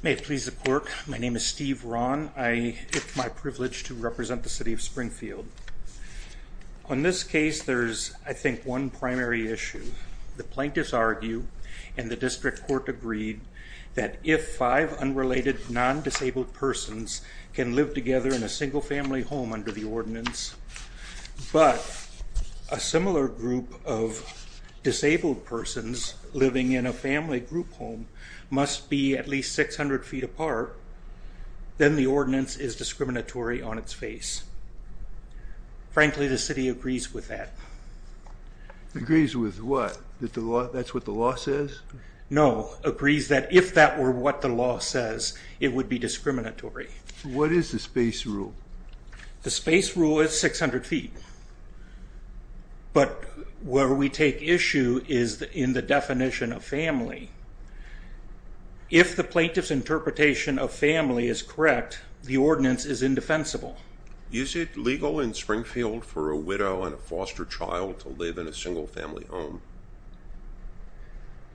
May it please the clerk, my name is Steve Rahn. It is my privilege to represent the City of Springfield. On this case, there is, I think, one primary issue. The plaintiffs argue, and the district court agreed, that if five unrelated non-disabled persons can live together in a single-family home under the ordinance, but a similar group of disabled persons living in a family group home must be at least 600 feet apart, then the ordinance is discriminatory on its face. Frankly, the city agrees with that. Agrees with what? That that's what the law says? No, agrees that if that were what the law says, it would be discriminatory. What is the space rule? The space rule is 600 feet, but where we take issue is in the definition of family. If the plaintiff's interpretation of family is correct, the widow and a foster child to live in a single-family home.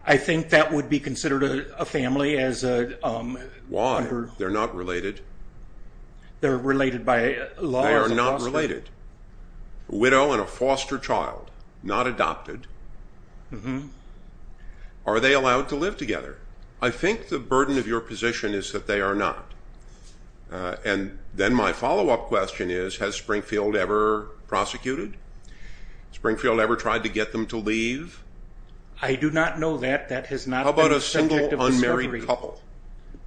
I think that would be considered a family as a... Why? They're not related. They're related by law. They are not related. Widow and a foster child, not adopted. Mm-hmm. Are they allowed to live together? I think the burden of your position is that they are not, and then my follow-up question is, has Springfield ever prosecuted? Springfield ever tried to get them to leave? I do not know that. That has not... How about a single unmarried couple?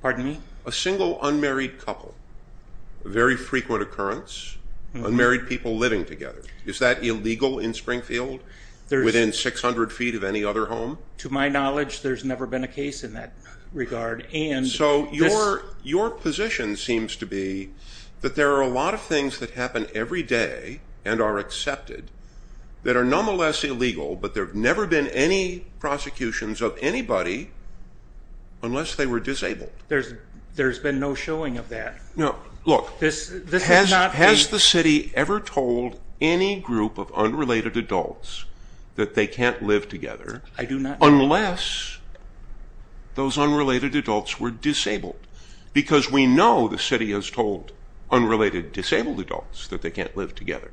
Pardon me? A single unmarried couple. Very frequent occurrence. Unmarried people living together. Is that illegal in Springfield? There's... Within 600 feet of any other home? To my knowledge, there's never been a My position seems to be that there are a lot of things that happen every day and are accepted that are nonetheless illegal, but there have never been any prosecutions of anybody unless they were disabled. There's been no showing of that? No. Look, has the city ever told any group of unrelated adults that they can't live together... I do not know. ...unless those the city has told unrelated disabled adults that they can't live together?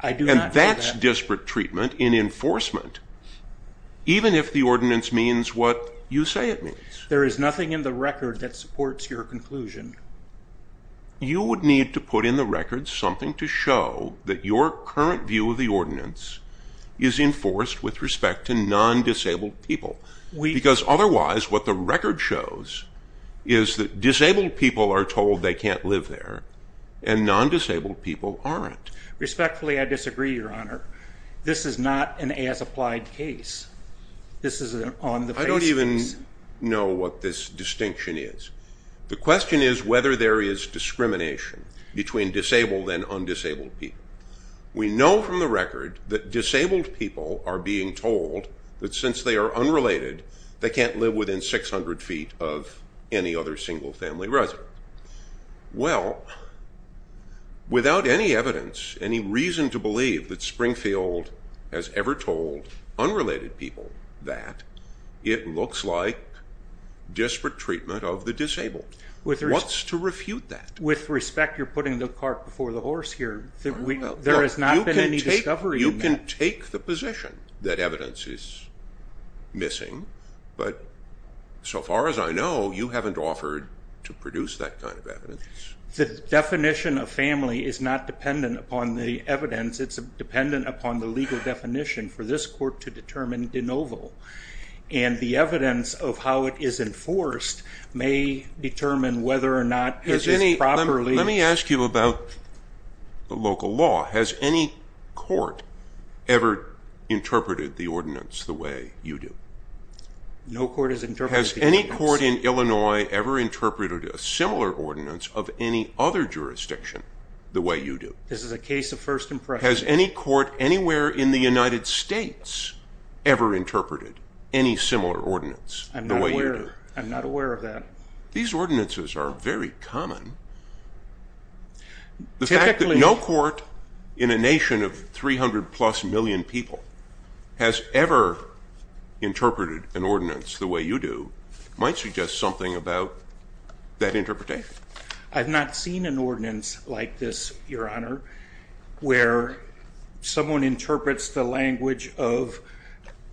I do not know that. And that's disparate treatment in enforcement, even if the ordinance means what you say it means. There is nothing in the record that supports your conclusion. You would need to put in the record something to show that your current view of the ordinance is enforced with respect to non-disabled people. Because otherwise, what the record shows is that disabled people are told they can't live there, and non-disabled people aren't. Respectfully, I disagree, Your Honor. This is not an as-applied case. This is an on-the-face case. I don't even know what this distinction is. The question is whether there is discrimination between disabled and undisabled people. We know from the unrelated, they can't live within 600 feet of any other single-family resident. Well, without any evidence, any reason to believe that Springfield has ever told unrelated people that, it looks like disparate treatment of the disabled. What's to refute that? With respect, you're putting the cart before the horse here. There has not been any discovery yet. You can take the position that evidence is missing, but so far as I know, you haven't offered to produce that kind of evidence. The definition of family is not dependent upon the evidence. It's dependent upon the legal definition for this court to determine de novo, and the evidence of how it is enforced may determine whether or not it is properly... ...the way you do. Has any court in Illinois ever interpreted a similar ordinance of any other jurisdiction the way you do? Has any court anywhere in the United States ever interpreted any similar ordinance? I'm not aware of that. These ordinances are very common. The fact that no court in a nation of 300-plus million people has ever interpreted an ordinance the way you do might suggest something about that interpretation. I've not seen an ordinance like this, Your Honor, where someone interprets the language of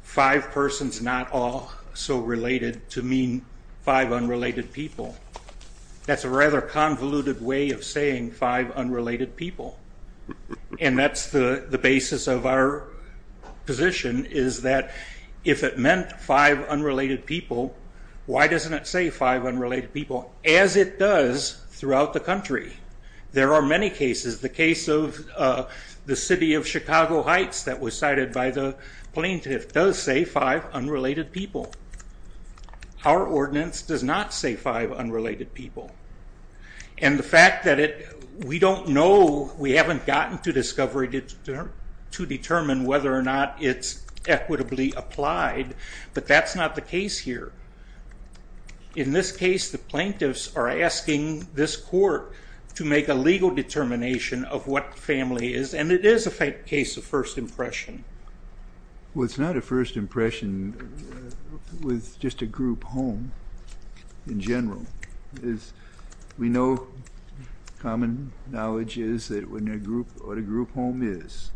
five persons not all so related to mean five unrelated people. That's a rather convoluted way of saying five unrelated people, and that's the basis of our position is that if it meant five unrelated people, why doesn't it say five unrelated people? As it does throughout the country. There are many cases. The case of the city of Chicago Heights that was cited by the plaintiff does say five unrelated people. Our ordinance does not say five unrelated people, and the fact that we don't know, we haven't gotten to discovery to determine whether or not it's equitably applied, but that's not the case here. In this case, the plaintiffs are asking this court to make a legal determination of what family is, and it is a case of first impression. Well, it's not a first impression with just a group home in general. We know common knowledge is that when a group or a group home is,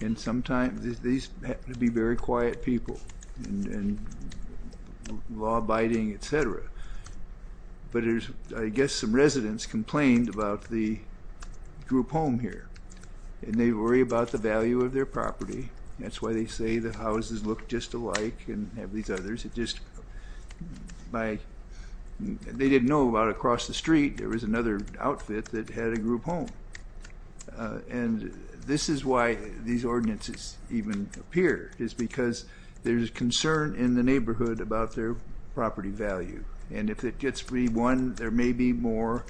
and sometimes these happen to be very quiet people and law-abiding, etc., but there's, I guess, some residents complained about the group home here, and they worry about the value of their property. That's why they say the houses look just alike and have these others. They didn't know about across the street there was another outfit that had a group home, and this is why these ordinances even appear, is because there's concern in the neighborhood about their property value, and if it gets re-won, there may be more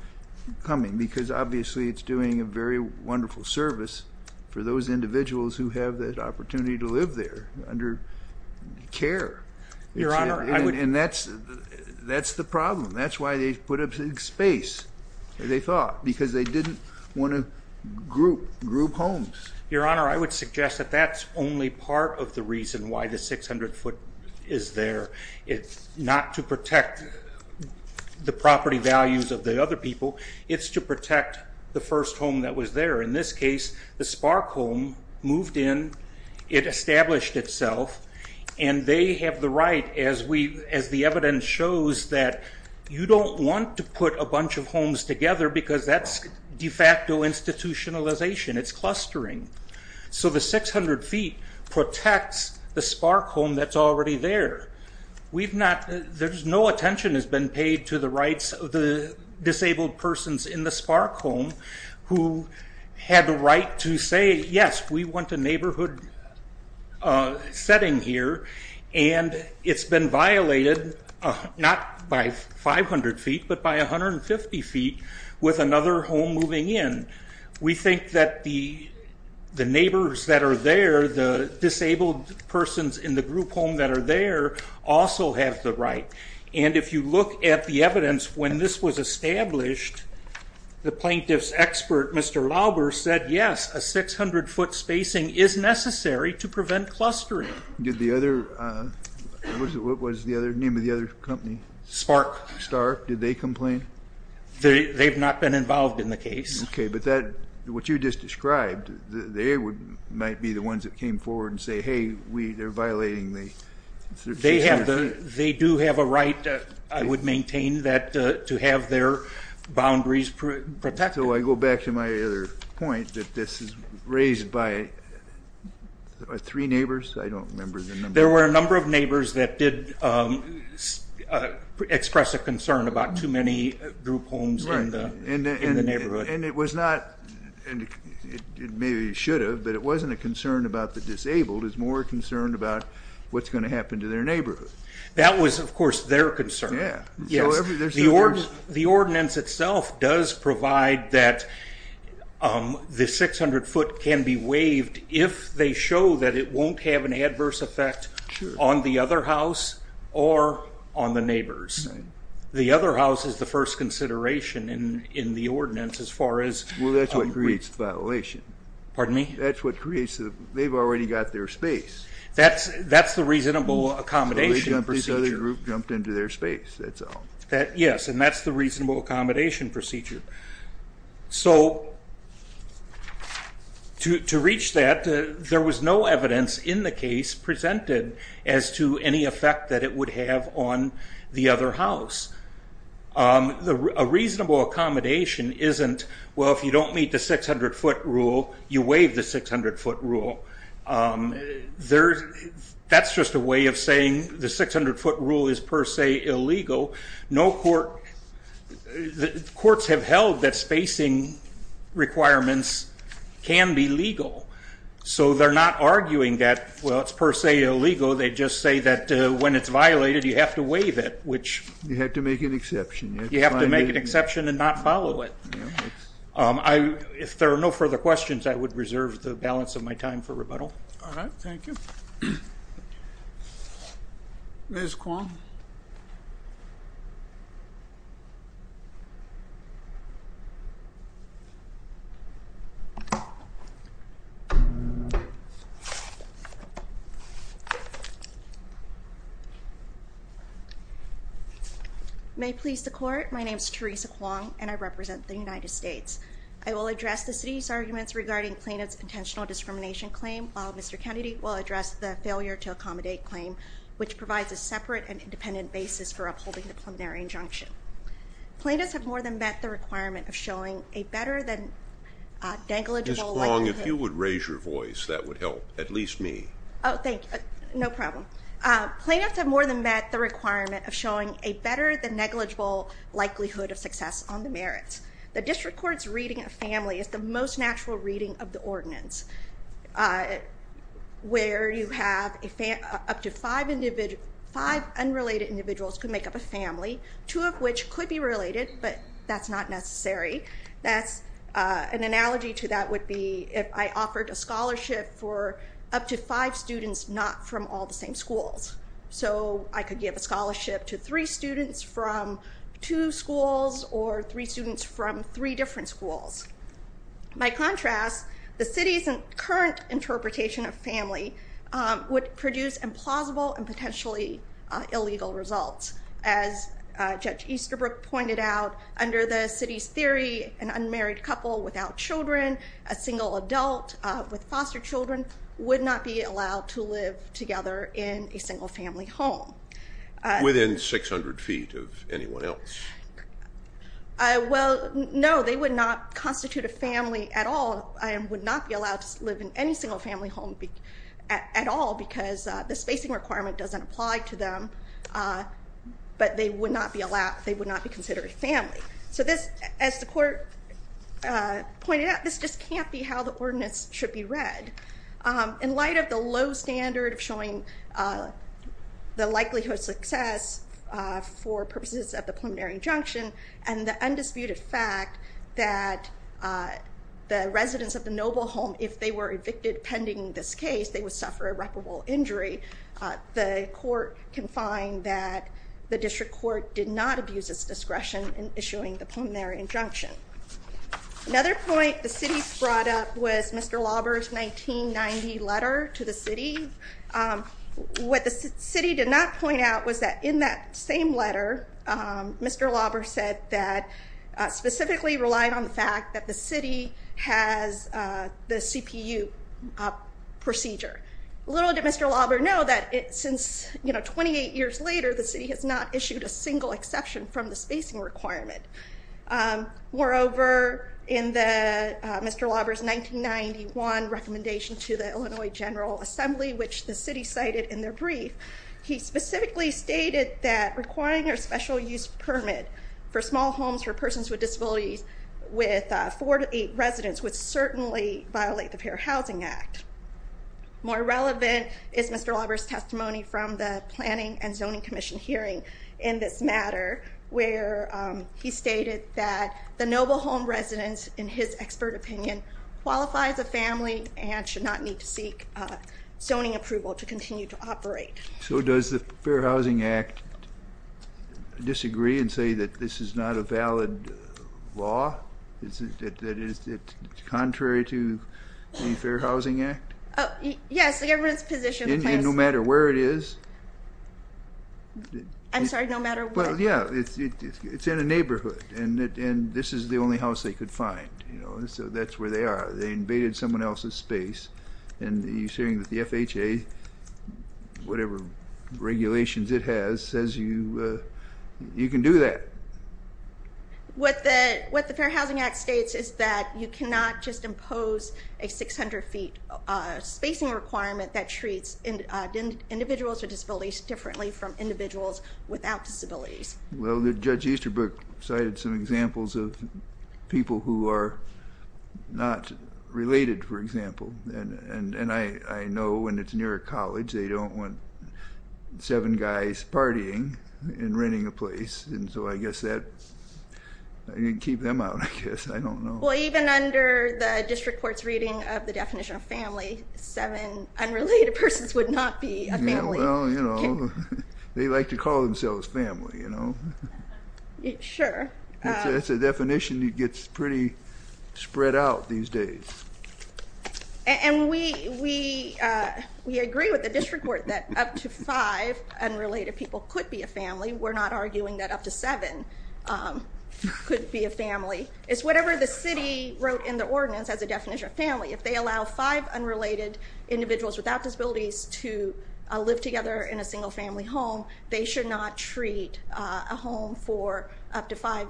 coming, because obviously it's doing a very wonderful service for those there under care. Your Honor, I would... And that's the problem. That's why they put up a big space, they thought, because they didn't want to group homes. Your Honor, I would suggest that that's only part of the reason why the 600 foot is there. It's not to protect the property values of the other people, it's to protect the first home that was there. In this case, the Spark home moved in, it established itself, and they have the right, as the evidence shows, that you don't want to put a bunch of homes together because that's de facto institutionalization. It's clustering. So the 600 feet protects the Spark home that's already there. There's no attention has been paid to the rights of the disabled persons in the Spark home who had the right to say, yes, we want a neighborhood setting here, and it's been violated, not by 500 feet, but by 150 feet with another home moving in. We think that the neighbors that are there, the disabled persons in the group home that are there, also have the right. And if you look at the evidence when this was established, the plaintiff's expert, Mr. Lauber, said yes, a 600 foot spacing is necessary to prevent clustering. Did the other, what was the other name of the other company? Spark. Spark. Did they complain? They've not been involved in the case. Okay, but that, what you just described, they might be the ones that came forward and say, hey, we, they're violating the... They have the, they do have a right, I would maintain to have their boundaries protected. So I go back to my other point that this is raised by three neighbors? I don't remember the number. There were a number of neighbors that did express a concern about too many group homes in the neighborhood. And it was not, and it maybe should have, but it wasn't a concern about the disabled, it was more concerned about what's going to happen to their concern. Yeah. Yes. The ordinance itself does provide that the 600 foot can be waived if they show that it won't have an adverse effect on the other house or on the neighbors. The other house is the first consideration in the ordinance as far as... Well that's what creates violation. Pardon me? That's what creates, they've already got their space. That's the reasonable accommodation procedure. These other groups jumped into their space, that's all. Yes, and that's the reasonable accommodation procedure. So to reach that, there was no evidence in the case presented as to any effect that it would have on the other house. The reasonable accommodation isn't, well if you don't meet the 600 foot rule, you a way of saying the 600 foot rule is per se illegal. No court, the courts have held that spacing requirements can be legal. So they're not arguing that, well it's per se illegal, they just say that when it's violated you have to waive it, which... You have to make an exception. You have to make an exception and not follow it. If there are no further questions, I would reserve the balance of my time for rebuttal. All right, thank you. Ms. Kwong. May it please the court, my name is Teresa Kwong and I represent the United States. I will address the city's arguments regarding plaintiff's intentional discrimination claim, while Mr. Kennedy will address the failure to accommodate claim, which provides a separate and independent basis for upholding the preliminary injunction. Plaintiffs have more than met the requirement of showing a better than negligible... Ms. Kwong, if you would raise your voice that would help, at least me. Oh thank you, no problem. Plaintiffs have more than met the requirement of showing a better than negligible likelihood of success on the merits. The district court's reading of family is the most natural reading of the ordinance, where you have up to five unrelated individuals could make up a family, two of which could be related, but that's not necessary. That's an analogy to that would be if I offered a scholarship for up to five students not from all the same schools. So I could give a scholarship to three students from two schools or three students from three schools. By contrast, the city's current interpretation of family would produce implausible and potentially illegal results. As Judge Easterbrook pointed out, under the city's theory an unmarried couple without children, a single adult with foster children, would not be allowed to live together in a would not constitute a family at all and would not be allowed to live in any single family home at all because the spacing requirement doesn't apply to them, but they would not be allowed, they would not be considered a family. So this, as the court pointed out, this just can't be how the ordinance should be read. In light of the low standard of showing the likelihood of success for purposes of the preliminary injunction and the undisputed fact that the residents of the noble home, if they were evicted pending this case, they would suffer irreparable injury, the court can find that the district court did not abuse its discretion in issuing the preliminary injunction. Another point the city brought up was Mr. Lauber's 1990 letter to the city. What the city did not point out was that in that same letter, Mr. Lauber said that specifically relied on the fact that the city has the CPU procedure. Little did Mr. Lauber know that since, you know, 28 years later the city has not issued a single exception from the spacing requirement. Moreover, in Mr. Lauber's 1991 recommendation to the Illinois General Assembly, which the city cited in their brief, he specifically stated that requiring a special-use permit for small homes for persons with disabilities with four to eight residents would certainly violate the Fair Housing Act. More relevant is Mr. Lauber's testimony from the Planning and Zoning Commission hearing in this matter, where he stated that the noble home residents, in his expert opinion, qualify as a family and should not need to seek zoning approval to continue to operate. So does the Fair Housing Act disagree and say that this is not a valid law? Is it contrary to the Fair Housing Act? Yes, the government's position... No matter where it is? I'm sorry, no matter what. Well, yeah, it's in a neighborhood and this is the only house they could find, you know, so that's where they are. They invaded someone else's space and you're saying that the FHA, whatever regulations it has, says you can do that. What the Fair Housing Act states is that you cannot just impose a 600 feet spacing requirement that treats individuals with disabilities differently from individuals without disabilities. Well, Judge Easterbrook cited some examples of people who are not related, for example, and I know when it's near a college they don't want seven guys partying and renting a place, and so I guess that, you can keep them out, I guess, I don't know. Well, even under the district court's reading of the definition of family, seven unrelated persons would not be a family. Well, you know, they like to call themselves family, you know. Sure. It's a definition that gets pretty spread out these days. And we agree with the district court that up to five unrelated people could be a family, we're not arguing that up to seven could be a family. It's whatever the city wrote in the ordinance as a definition of family. If they allow five unrelated individuals without disabilities to live together in a single-family home, they should not treat a home for up to five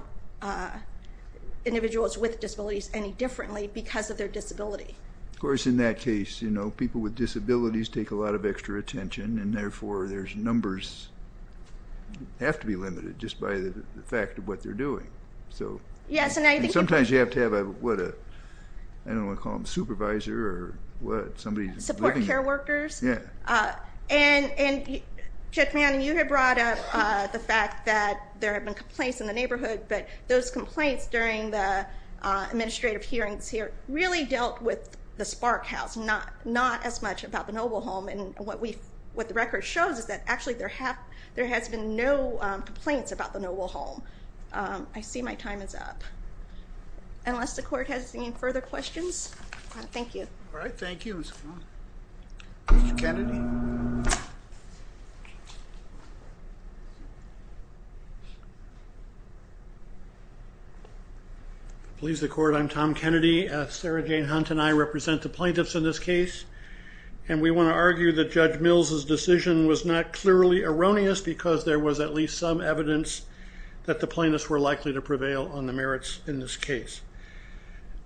individuals with disabilities any differently because of their disability. Of course, in that case, you know, people with disabilities take a lot of extra attention and therefore there's numbers have to be limited just by the fact of what they're doing. So, sometimes you have to have a, what a, I don't want to call them supervisor or what, somebody's support care workers. And Judge Manning, you had brought up the fact that there have been complaints in the neighborhood, but those complaints during the administrative hearings here really dealt with the Spark House, not as much about the Noble Home. And what the record shows is that actually there has been no complaints about the Noble Home. I see my time is up. Unless the court has any further questions. Thank you. All right, thank you. Please the court, I'm Tom Kennedy. Sarah Jane Hunt and I represent the plaintiffs in this case and we want to argue that Judge Mills's decision was not clearly erroneous because there was at least some evidence that the plaintiffs were in this case.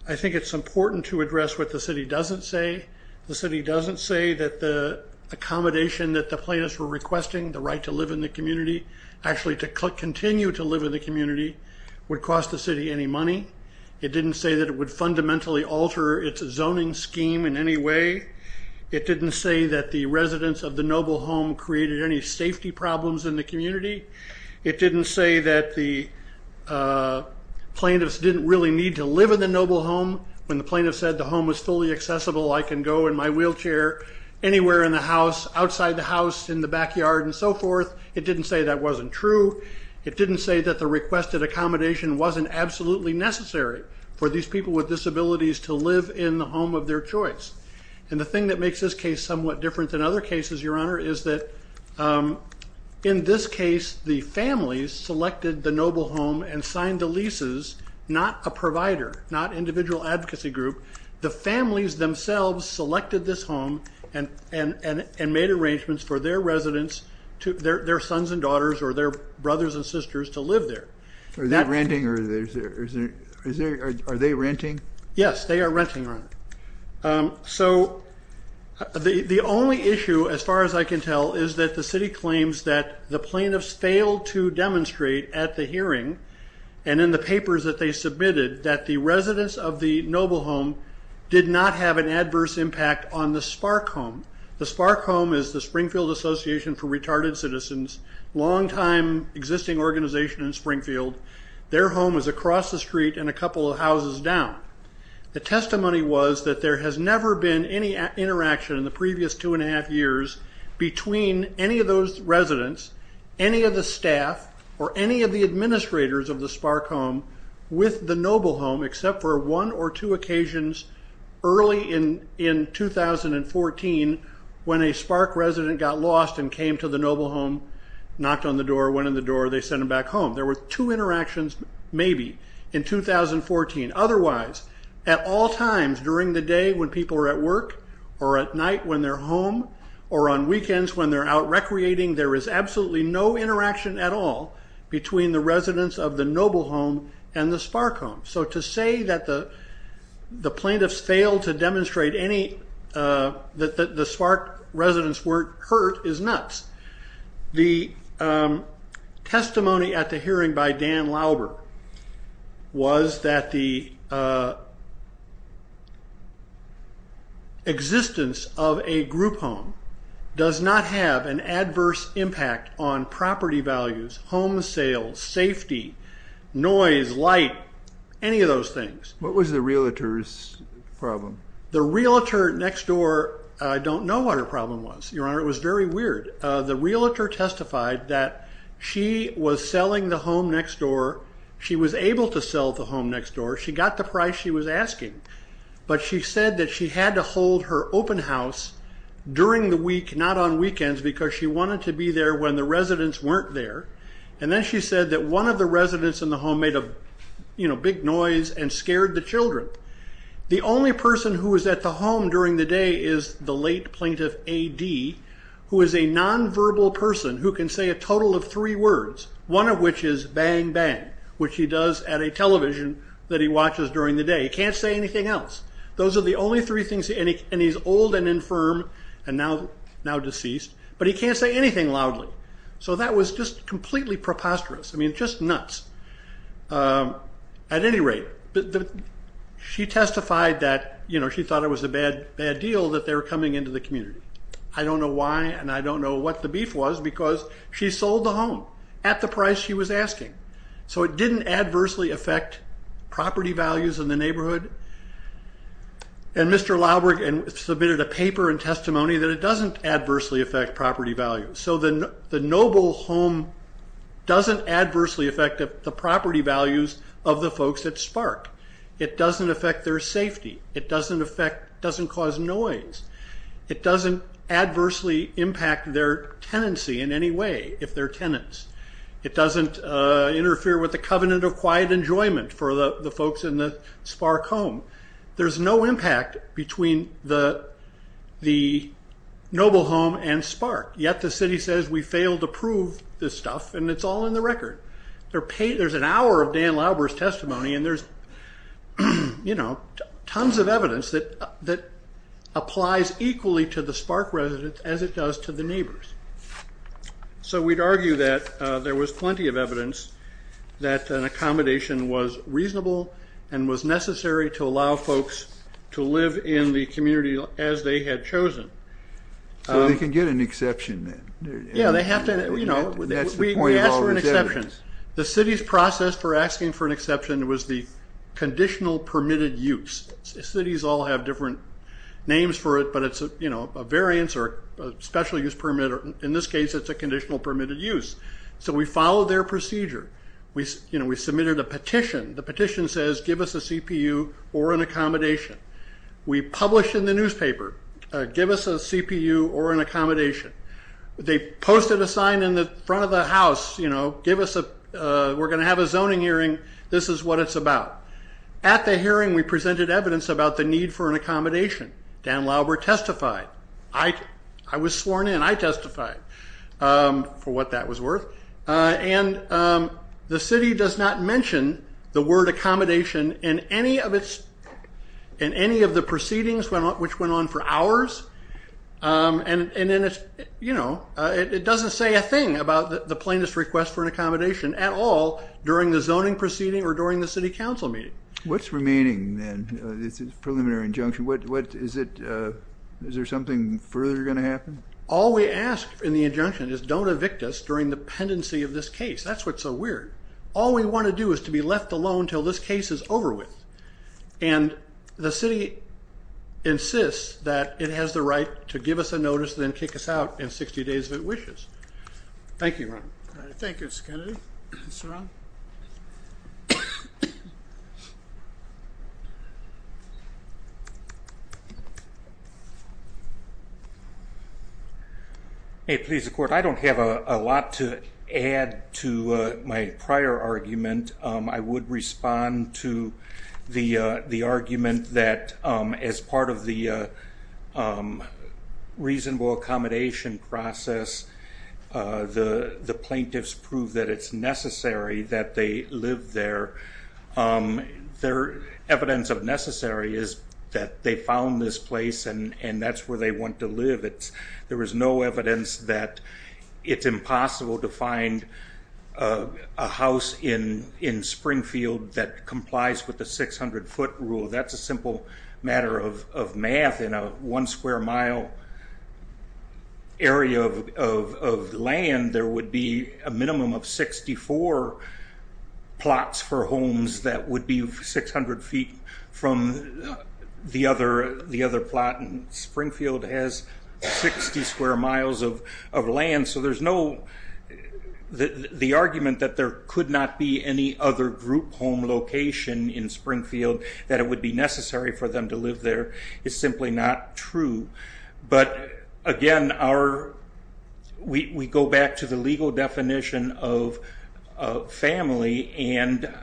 I think it's important to address what the city doesn't say. The city doesn't say that the accommodation that the plaintiffs were requesting, the right to live in the community, actually to continue to live in the community, would cost the city any money. It didn't say that it would fundamentally alter its zoning scheme in any way. It didn't say that the residents of the Noble Home created any safety problems in the community. It didn't say that the really need to live in the Noble Home when the plaintiff said the home was fully accessible, I can go in my wheelchair, anywhere in the house, outside the house, in the backyard, and so forth. It didn't say that wasn't true. It didn't say that the requested accommodation wasn't absolutely necessary for these people with disabilities to live in the home of their choice. And the thing that makes this case somewhat different than other cases, Your Honor, is that in this provider, not individual advocacy group, the families themselves selected this home and made arrangements for their residents, their sons and daughters, or their brothers and sisters to live there. Are they renting? Yes, they are renting. So the only issue, as far as I can tell, is that the city claims that the plaintiffs failed to demonstrate at the hearing and in the hearing that the residents of the Noble Home did not have an adverse impact on the Spark Home. The Spark Home is the Springfield Association for Retarded Citizens, longtime existing organization in Springfield. Their home is across the street and a couple of houses down. The testimony was that there has never been any interaction in the previous two and a half years between any of those residents, any of the staff, or any of the administrators of the Spark Home with the Noble Home, except for one or two occasions early in 2014 when a Spark resident got lost and came to the Noble Home, knocked on the door, went in the door, they sent him back home. There were two interactions, maybe, in 2014. Otherwise, at all times during the day when people are at work, or at night when they're home, or on weekends when they're out recreating, there is absolutely no interaction between the Noble Home and the Spark Home. So to say that the plaintiffs failed to demonstrate that the Spark residents weren't hurt is nuts. The testimony at the hearing by Dan Lauber was that the existence of a group home does not have an adverse impact on property values, home sales, safety, noise, light, any of those things. What was the realtor's problem? The realtor next door, I don't know what her problem was, your honor. It was very weird. The realtor testified that she was selling the home next door. She was able to sell the home next door. She got the price she was asking, but she said that she had to hold her open house during the week, not on weekends, because she wanted to be there when the residents weren't there. Then she said that one of the residents in the home made a big noise and scared the children. The only person who was at the home during the day is the late plaintiff A.D., who is a nonverbal person who can say a total of three words, one of which is bang bang, which he does at a television that he watches during the day. He can't say anything else. Those are the only three things, and he's old and infirm and now deceased, but he can't say anything loudly. So that was just completely preposterous. I mean, just nuts. At any rate, she testified that, you know, she thought it was a bad deal that they were coming into the community. I don't know why, and I don't know what the beef was, because she sold the home at the price she was asking. So it didn't adversely affect property values in the neighborhood, and Mr. Lauberg submitted a paper and testimony that it doesn't adversely affect property values. So the noble home doesn't adversely affect the property values of the folks at Spark. It doesn't affect their safety. It doesn't cause noise. It doesn't adversely impact their tenancy in any way, if they're tenants. It doesn't interfere with the covenant of quiet enjoyment for the folks in the Spark home. There's no impact between the noble home and Spark, yet the city says we failed to prove this stuff, and it's all in the record. There's an hour of Dan Lauberg's testimony, and there's, you know, tons of evidence that applies equally to the Spark residents as it does to the neighbors. So we'd argue that there was plenty of evidence that an accommodation was reasonable and was necessary to allow folks to live in the community as they had chosen. So they can get an exception then? Yeah, they have to, you know, we asked for an exception. The city's process for asking for an exception was the conditional permitted use. Cities all have different names for it, but it's, you know, a variance or a special use permit, or in this case it's a conditional permitted use. So we followed their procedure. We, you know, we submitted a petition. The petition says give us a CPU or an accommodation. We publish in the newspaper, give us a CPU or an accommodation. They posted a sign in the front of the house, you know, give us a, we're going to have a zoning hearing, this is what it's about. At the hearing we presented evidence about the testified. I was sworn in, I testified for what that was worth, and the city does not mention the word accommodation in any of its, in any of the proceedings which went on for hours, and then it's, you know, it doesn't say a thing about the plaintiff's request for an accommodation at all during the zoning proceeding or during the City Council meeting. What's remaining then, it's a preliminary injunction, what is it, is there something further going to happen? All we ask in the injunction is don't evict us during the pendency of this case, that's what's so weird. All we want to do is to be left alone till this case is over with, and the city insists that it has the right to give us a notice then kick us out in 60 days if it wishes. Thank you, Ron. Thank you, Mr. Kennedy. Mr. Rahn. Hey, please, the Court. I don't have a lot to add to my prior argument. I would respond to the argument that as part of the reasonable accommodation process, the the plaintiffs prove that it's necessary that they live there. Their evidence of necessary is that they found this place and and that's where they want to live. There is no evidence that it's impossible to find a house in Springfield that complies with the 600 foot rule. That's a simple matter of math. In a one square mile area of land, there would be a minimum of 64 plots for homes that would be 600 feet from the other plot, and Springfield has 60 square miles of land, so there's no, the argument that there could not be any other group home location in Springfield, that it would be necessary for them to live there, is simply not true. But again, we go back to the legal definition of family and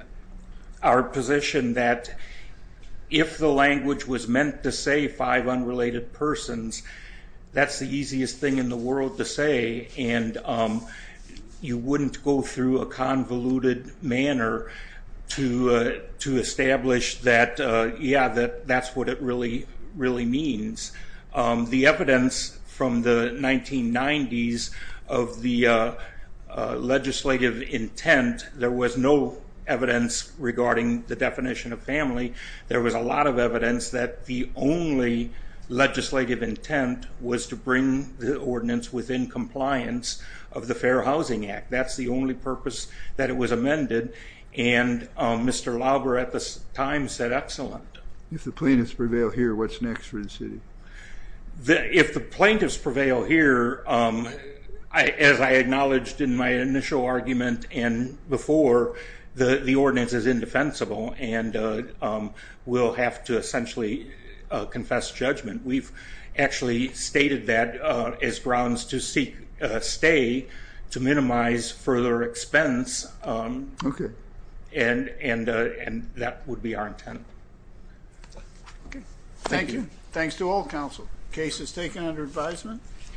our position that if the language was meant to say five unrelated persons, that's the easiest thing in the world to say, and you wouldn't go through a convoluted manner to establish that, yeah, that that's what it really, really There was no evidence regarding the definition of family. There was a lot of evidence that the only legislative intent was to bring the ordinance within compliance of the Fair Housing Act. That's the only purpose that it was amended, and Mr. Lauber at the time said excellent. If the plaintiffs prevail here, what's next for the city? If the plaintiffs prevail here, as I said before, the ordinance is indefensible and we'll have to essentially confess judgment. We've actually stated that as grounds to stay, to minimize further expense, and that would be our intent. Thank you. Thanks to all council. Case is taken under advisement.